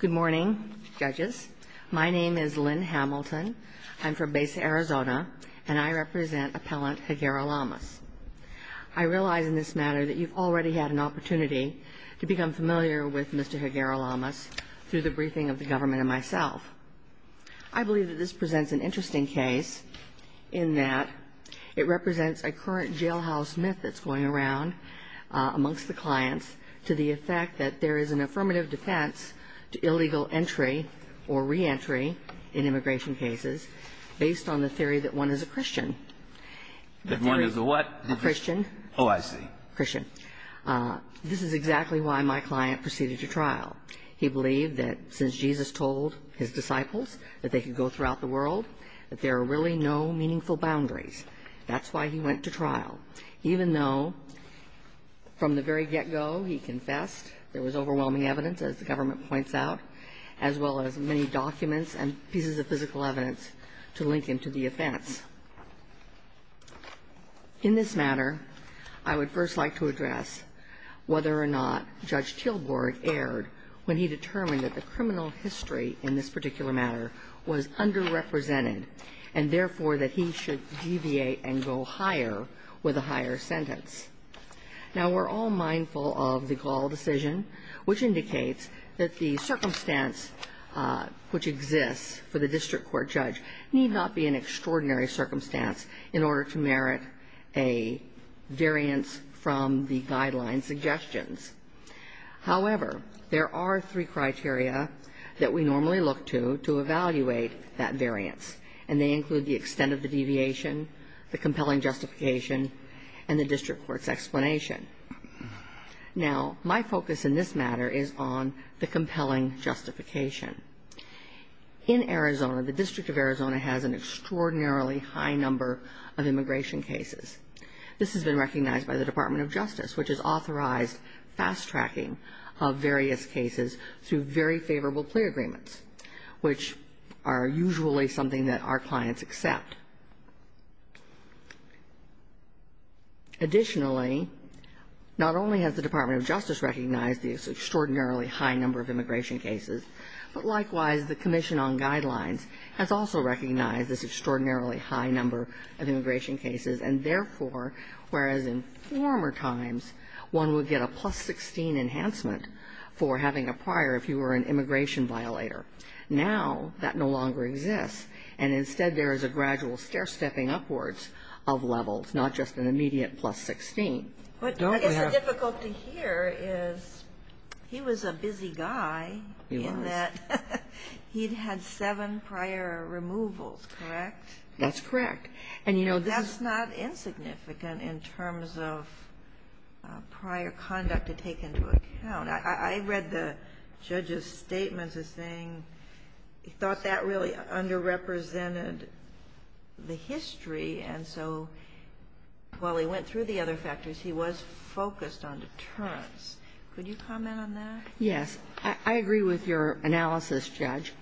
Good morning, judges. My name is Lynn Hamilton. I'm from Besa, Arizona, and I represent Appellant Higuera-Llamos. I realize in this matter that you've already had an opportunity to become familiar with Mr. Higuera-Llamos through the briefing of the government and myself. I believe that this presents an interesting case in that it represents a current jailhouse myth that's going around amongst the clients to the effect that there is an affirmative defense to illegal entry or reentry in immigration cases based on the theory that one is a Christian. That one is a what? A Christian. Oh, I see. Christian. This is exactly why my client proceeded to trial. He believed that since Jesus told his disciples that they could go throughout the world, that there are really no meaningful boundaries. That's why he went to trial, even though from the very get-go he confessed there was overwhelming evidence, as the government points out, as well as many documents and pieces of physical evidence to link him to the offense. In this matter, I would first like to address whether or not Judge Tilburg erred when he determined that the criminal history in this particular matter was underrepresented and, therefore, that he should deviate and go higher with a higher sentence. Now, we're all mindful of the Gall decision, which indicates that the circumstance which exists for the district court judge need not be an extraordinary circumstance in order to merit a variance from the guideline suggestions. However, there are three criteria that we normally look to to evaluate that variance, and they include the extent of the deviation, the compelling justification, and the district court's explanation. Now, my focus in this matter is on the compelling justification. In Arizona, the District of Arizona has an extraordinarily high number of immigration cases. This has been recognized by the Department of Justice, which has authorized fast-tracking of various cases through very favorable clear agreements, which are usually something that our clients accept. Additionally, not only has the Department of Justice recognized this extraordinarily high number of immigration cases, but, likewise, the Commission on Guidelines has also recognized this extraordinarily high number of immigration cases, and, therefore, whereas in former times, one would get a plus-16 enhancement for having a prior if you were an immigration violator, now that no longer exists. And, instead, there is a gradual stair-stepping upwards of levels, not just an immediate plus-16. But I guess the difficulty here is he was a busy guy. He was. In that he'd had seven prior removals, correct? That's correct. That's not insignificant in terms of prior conduct to take into account. I read the judge's statements as saying he thought that really underrepresented the history, and so while he went through the other factors, he was focused on deterrence. Could you comment on that? I agree with your analysis, Judge.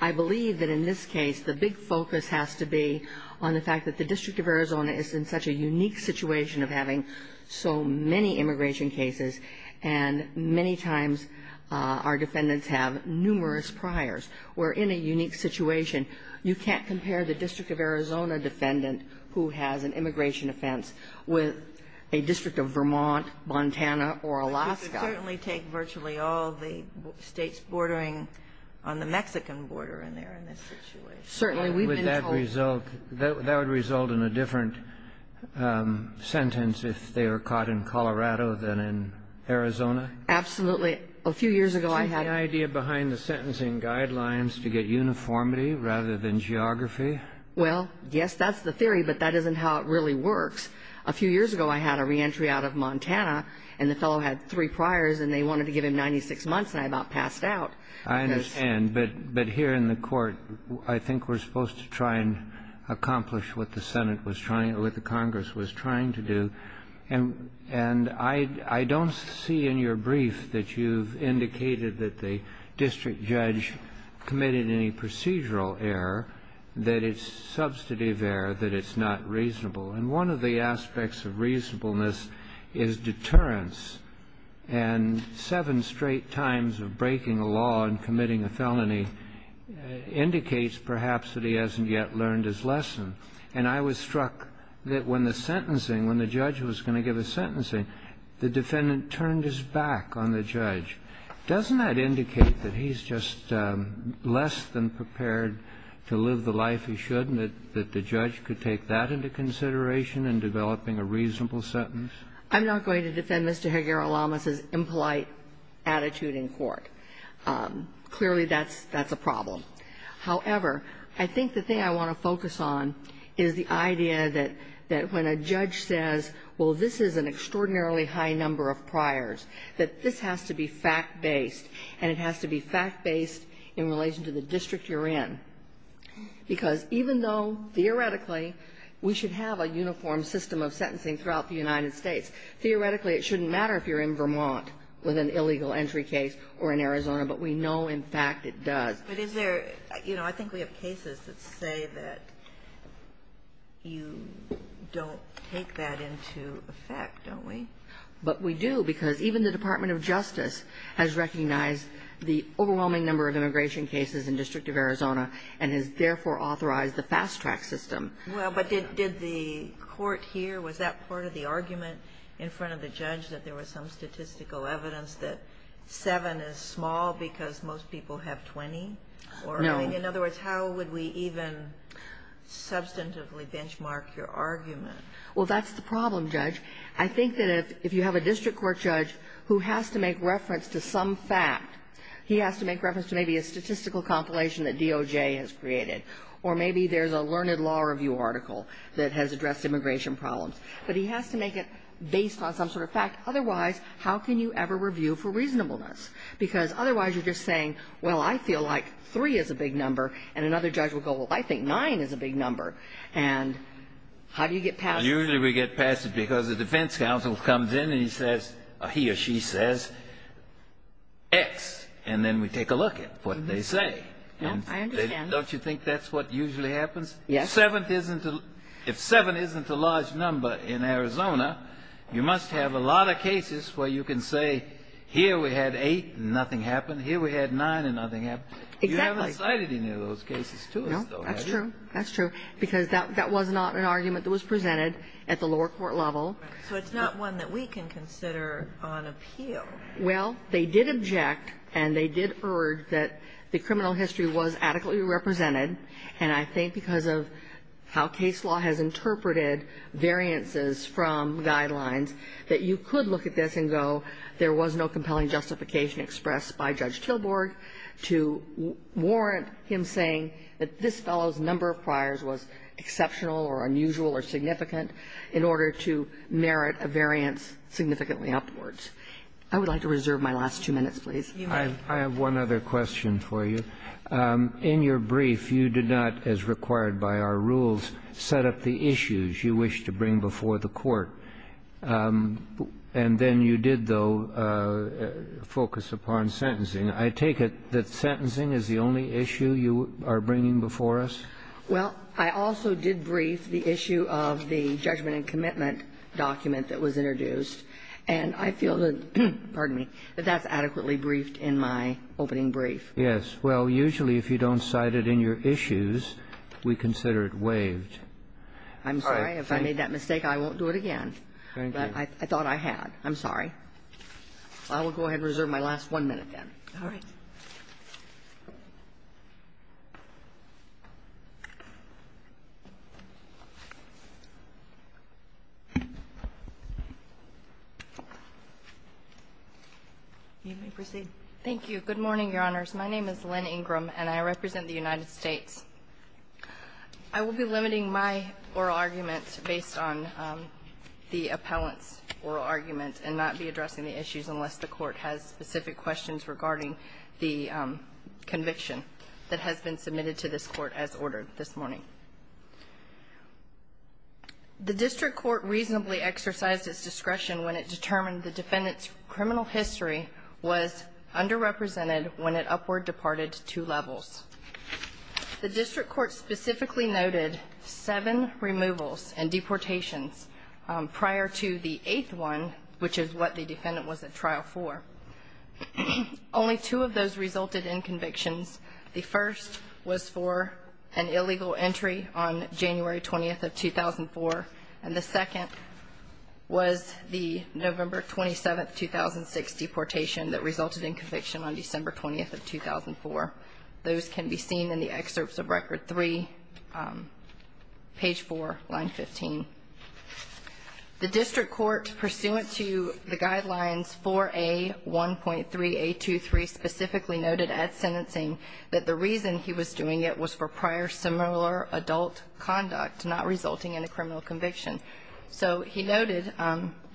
I believe that in this case the big focus has to be on the fact that the District of Arizona is in such a unique situation of having so many immigration cases, and many times our defendants have numerous priors. We're in a unique situation. You can't compare the District of Arizona defendant who has an immigration offense with a district of Vermont, Montana, or Alaska. We could certainly take virtually all the states bordering on the Mexican border in there in this situation. Certainly. Would that result in a different sentence if they were caught in Colorado than in Arizona? Absolutely. A few years ago, I had a... Is that the idea behind the sentencing guidelines, to get uniformity rather than geography? Well, yes, that's the theory, but that isn't how it really works. A few years ago, I had a reentry out of Montana, and the fellow had three priors, and they wanted to give him 96 months, and I about passed out. I understand. But here in the Court, I think we're supposed to try and accomplish what the Senate was trying or what the Congress was trying to do. And I don't see in your brief that you've indicated that the district judge committed any procedural error, that it's substantive error, that it's not reasonable. And one of the aspects of reasonableness is deterrence. And seven straight times of breaking a law and committing a felony indicates perhaps that he hasn't yet learned his lesson. And I was struck that when the sentencing, when the judge was going to give a sentencing, the defendant turned his back on the judge. Doesn't that indicate that he's just less than prepared to live the life he should and that the judge could take that into consideration in developing a reasonable sentence? I'm not going to defend Mr. Higuera-Lamas's impolite attitude in court. Clearly, that's a problem. However, I think the thing I want to focus on is the idea that when a judge says, well, this is an extraordinarily high number of priors, that this has to be fact-based, and it has to be fact-based in relation to the district you're in. Because even though theoretically we should have a uniform system of sentencing throughout the United States, theoretically it shouldn't matter if you're in Vermont with an illegal entry case or in Arizona, but we know in fact it does. But is there, you know, I think we have cases that say that you don't take that into effect, don't we? But we do, because even the Department of Justice has recognized the overwhelming number of immigration cases in the District of Arizona and has therefore authorized the fast-track system. Well, but did the court here, was that part of the argument in front of the judge that there was some statistical evidence that seven is small because most people have 20? No. In other words, how would we even substantively benchmark your argument? Well, that's the problem, Judge. I think that if you have a district court judge who has to make reference to some fact, he has to make reference to maybe a statistical compilation that DOJ has created, or maybe there's a learned law review article that has addressed immigration problems. But he has to make it based on some sort of fact. Otherwise, how can you ever review for reasonableness? Because otherwise you're just saying, well, I feel like three is a big number, and another judge will go, well, I think nine is a big number. And how do you get past it? Usually we get past it because the defense counsel comes in and he says, he or she says X, and then we take a look at what they say. I understand. Don't you think that's what usually happens? Yes. If seven isn't a large number in Arizona, you must have a lot of cases where you can say here we had eight and nothing happened. Here we had nine and nothing happened. Exactly. You haven't cited any of those cases to us, though, have you? No. That's true. That's true. Because that was not an argument that was presented at the lower court level. So it's not one that we can consider on appeal. Well, they did object and they did urge that the criminal history was adequately represented. And I think because of how case law has interpreted variances from guidelines that you could look at this and go there was no compelling justification expressed by Judge Tilburg to warrant him saying that this fellow's number of priors was exceptional or unusual or significant in order to merit a variance significantly upwards. I would like to reserve my last two minutes, please. You may. I have one other question for you. In your brief, you did not, as required by our rules, set up the issues you wish to bring before the court. And then you did, though, focus upon sentencing. I take it that sentencing is the only issue you are bringing before us? Well, I also did brief the issue of the judgment and commitment document that was introduced. And I feel that, pardon me, that that's adequately briefed in my opening brief. Yes. Well, usually if you don't cite it in your issues, we consider it waived. I'm sorry if I made that mistake. I won't do it again. Thank you. But I thought I had. I'm sorry. I will go ahead and reserve my last one minute then. All right. You may proceed. Thank you. Good morning, Your Honors. My name is Lynn Ingram, and I represent the United States. I will be limiting my oral argument based on the appellant's oral argument and not be addressing the issues unless the court has specific questions regarding the conviction that has been submitted to this Court as ordered this morning. The district court reasonably exercised its discretion when it determined the defendant's criminal history was underrepresented when it upward departed two levels. The district court specifically noted seven removals and deportations prior to the eighth one, which is what the defendant was at trial for. Only two of those resulted in convictions. The first was for an illegal entry on January 20th of 2004, and the second was the November 27th, 2006, deportation that resulted in conviction on December 20th of 2004. Those can be seen in the excerpts of Record 3, page 4, line 15. The district court, pursuant to the guidelines 4A1.3A23, specifically noted at sentencing that the reason he was doing it was for prior similar adult conduct, not resulting in a criminal conviction. So he noted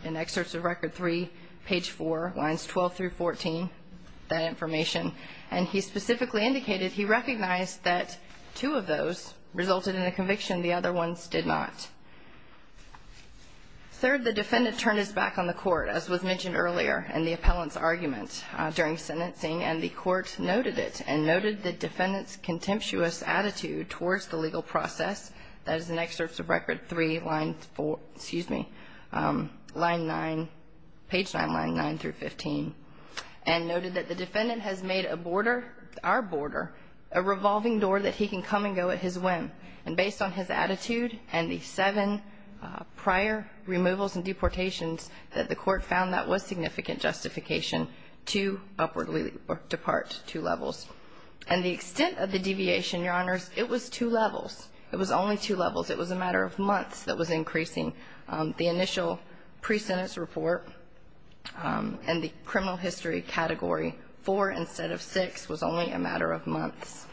in excerpts of Record 3, page 4, lines 12 through 14, that information, and he specifically indicated he recognized that two of those resulted in a conviction. The other ones did not. Third, the defendant turned his back on the court, as was mentioned earlier, in the appellant's argument during sentencing, and the court noted it and noted the defendant's contemptuous attitude towards the legal process. That is in excerpts of Record 3, line 4, excuse me, line 9, page 9, line 9 through 15, and noted that the defendant has made a border, our border, a revolving door that he can come and go at his whim, and based on his attitude and the seven prior removals and deportations, that the court found that was significant justification to upwardly depart two levels. And the extent of the deviation, Your Honors, it was two levels. It was only two levels. It was a matter of months that was increasing. The initial pre-sentence report and the criminal history category, four instead of six, was only a matter of months.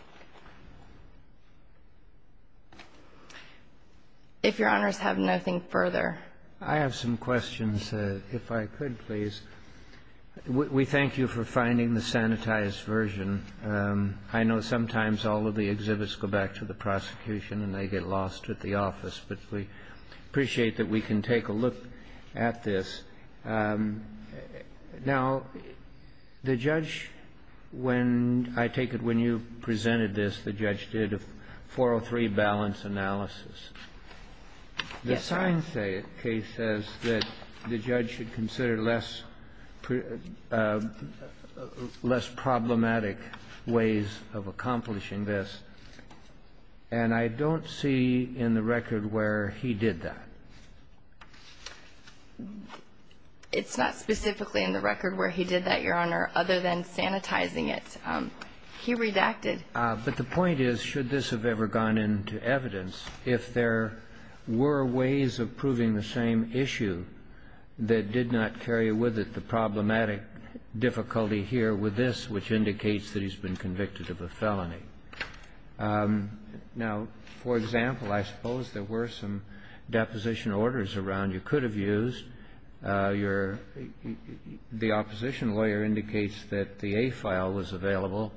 If Your Honors have nothing further. I have some questions, if I could, please. We thank you for finding the sanitized version. I know sometimes all of the exhibits go back to the prosecution and they get lost at the office, but we appreciate that we can take a look at this. Now, the judge, when I take it when you presented this, the judge did a 403 balance analysis. Yes, Your Honor. The sign case says that the judge should consider less problematic ways of accomplishing this. And I don't see in the record where he did that. It's not specifically in the record where he did that, Your Honor, other than sanitizing He redacted. But the point is, should this have ever gone into evidence, if there were ways of proving the same issue that did not carry with it the problematic difficulty here with this, which indicates that he's been convicted of a felony. Now, for example, I suppose there were some deposition orders around you could have used. The opposition lawyer indicates that the A file was available.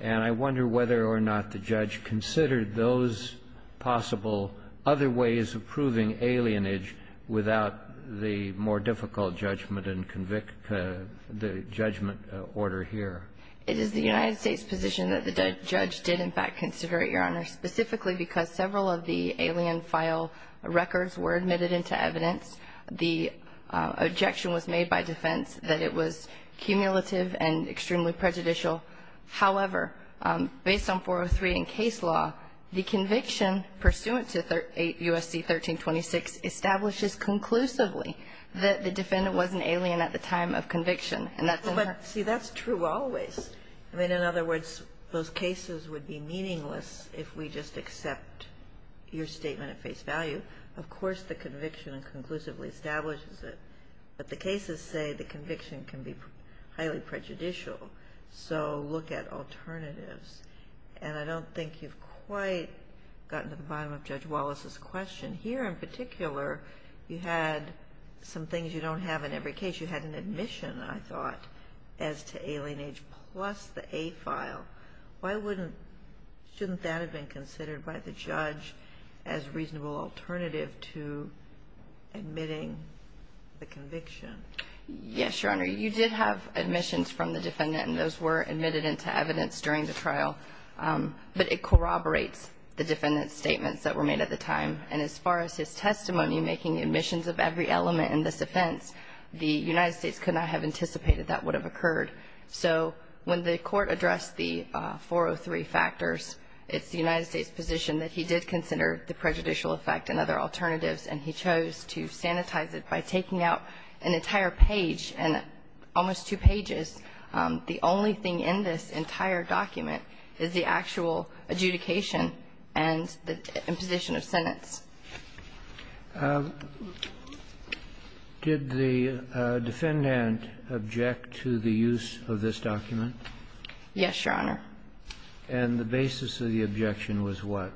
And I wonder whether or not the judge considered those possible other ways of proving alienage without the more difficult judgment and convict the judgment order here. It is the United States position that the judge did, in fact, consider it, Your Honor, specifically because several of the alien file records were admitted into evidence. The objection was made by defense that it was cumulative and extremely prejudicial. However, based on 403 in case law, the conviction pursuant to USC 1326 establishes conclusively that the defendant was an alien at the time of conviction, and that's important. See, that's true always. I mean, in other words, those cases would be meaningless if we just accept your statement at face value. Of course, the conviction conclusively establishes it. But the cases say the conviction can be highly prejudicial. So look at alternatives. And I don't think you've quite gotten to the bottom of Judge Wallace's question. Here, in particular, you had some things you don't have in every case. You had an admission, I thought, as to alien age plus the A file. Why wouldn't – shouldn't that have been considered by the judge as a reasonable alternative to admitting the conviction? Yes, Your Honor. You did have admissions from the defendant, and those were admitted into evidence during the trial. But it corroborates the defendant's statements that were made at the time. And as far as his testimony making admissions of every element in this offense, the United States could not have anticipated that would have occurred. So when the Court addressed the 403 factors, it's the United States' position that he did consider the prejudicial effect and other alternatives, and he chose to sanitize it by taking out an entire page and almost two pages. The only thing in this entire document is the actual adjudication and the imposition of sentence. Did the defendant object to the use of this document? Yes, Your Honor. And the basis of the objection was what?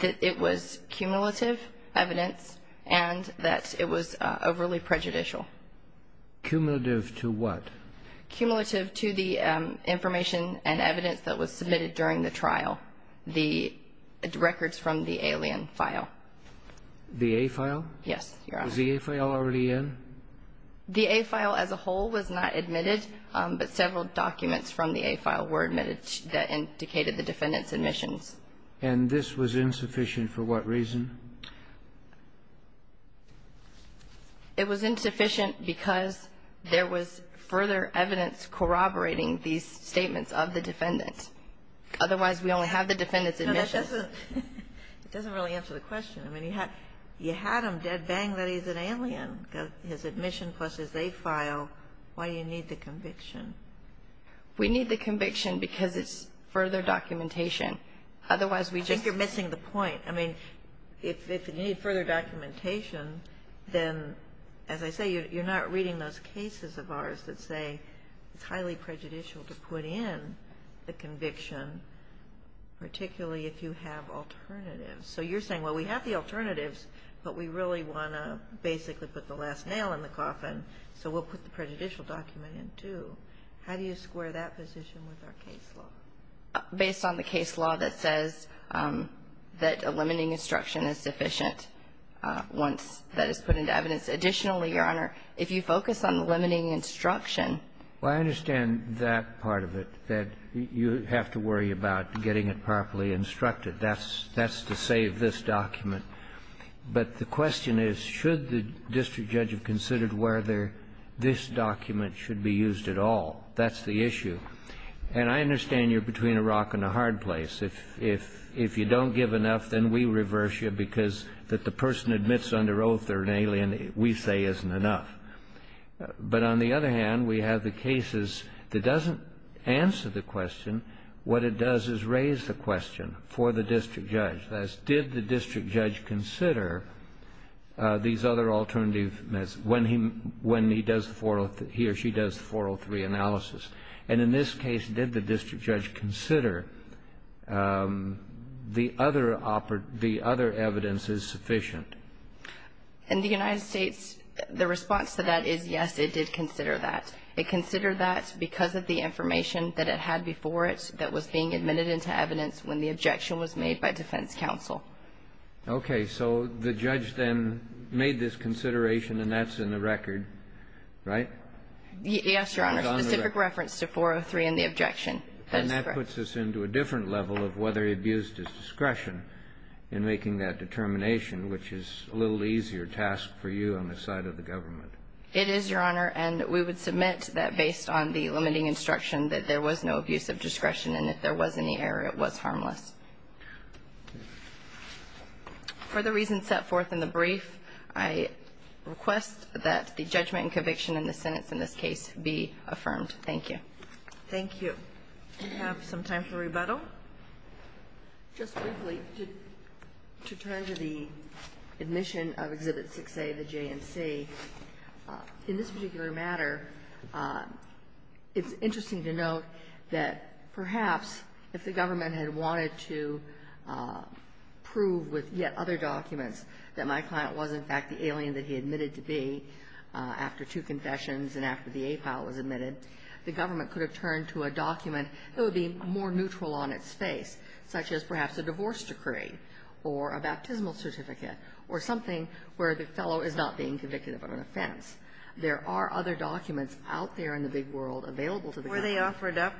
That it was cumulative evidence and that it was overly prejudicial. Cumulative to what? Cumulative to the information and evidence that was submitted during the trial, the records from the alien file. The A-file? Yes, Your Honor. Was the A-file already in? The A-file as a whole was not admitted, but several documents from the A-file were admitted that indicated the defendant's admissions. And this was insufficient for what reason? It was insufficient because there was further evidence corroborating these statements of the defendant. Otherwise, we only have the defendant's admission. No, that doesn't really answer the question. I mean, you had him dead bang that he's an alien, his admission plus his A-file. Why do you need the conviction? We need the conviction because it's further documentation. Otherwise, we just don't. I think you're missing the point. I mean, if you need further documentation, then, as I say, you're not reading those cases of ours that say it's highly prejudicial to put in the conviction, particularly if you have alternatives. So you're saying, well, we have the alternatives, but we really want to basically put the last nail in the coffin, so we'll put the prejudicial document in, too. How do you square that position with our case law? Based on the case law that says that a limiting instruction is sufficient once that is put into evidence. Additionally, Your Honor, if you focus on the limiting instruction. Well, I understand that part of it, that you have to worry about getting it properly instructed. That's to save this document. But the question is, should the district judge have considered whether this document should be used at all? That's the issue. And I understand you're between a rock and a hard place. If you don't give enough, then we reverse you because that the person admits under an alien we say isn't enough. But on the other hand, we have the cases that doesn't answer the question. What it does is raise the question for the district judge. That is, did the district judge consider these other alternative when he does the 403, he or she does the 403 analysis? And in this case, did the district judge consider the other evidence is sufficient? In the United States, the response to that is, yes, it did consider that. It considered that because of the information that it had before it that was being admitted into evidence when the objection was made by defense counsel. Okay. So the judge then made this consideration, and that's in the record, right? Yes, Your Honor. Specific reference to 403 and the objection. And that puts us into a different level of whether he abused his discretion in making that determination, which is a little easier task for you on the side of the government. It is, Your Honor. And we would submit that based on the limiting instruction that there was no abusive discretion, and if there was any error, it was harmless. For the reasons set forth in the brief, I request that the judgment and conviction in the sentence in this case be affirmed. Thank you. Thank you. We have some time for rebuttal. Just briefly, to turn to the admission of Exhibit 6A of the J&C, in this particular matter, it's interesting to note that perhaps if the government had wanted to prove with yet other documents that my client was, in fact, the alien that he admitted to be after two confessions and after the APAL was admitted, the government could have turned to a document that would be more neutral on its face, such as perhaps a divorce decree or a baptismal certificate or something where the fellow is not being convicted of an offense. There are other documents out there in the big world available to the government. Were they offered up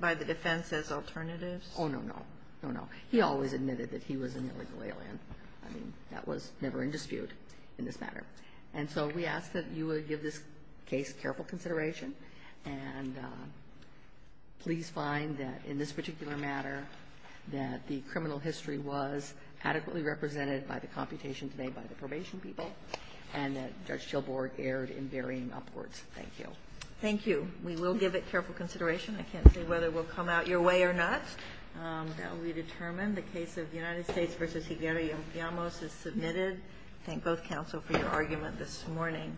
by the defense as alternatives? Oh, no, no. No, no. He always admitted that he was an illegal alien. I mean, that was never in dispute in this matter. And so we ask that you would give this case careful consideration, and please find that in this particular matter that the criminal history was adequately represented by the computation today by the probation people, and that Judge Gilborg erred in varying upwards. Thank you. Thank you. We will give it careful consideration. I can't say whether it will come out your way or not. That will be determined. The case of United States v. Higueri and Llamas is submitted. Thank both counsel for your argument this morning.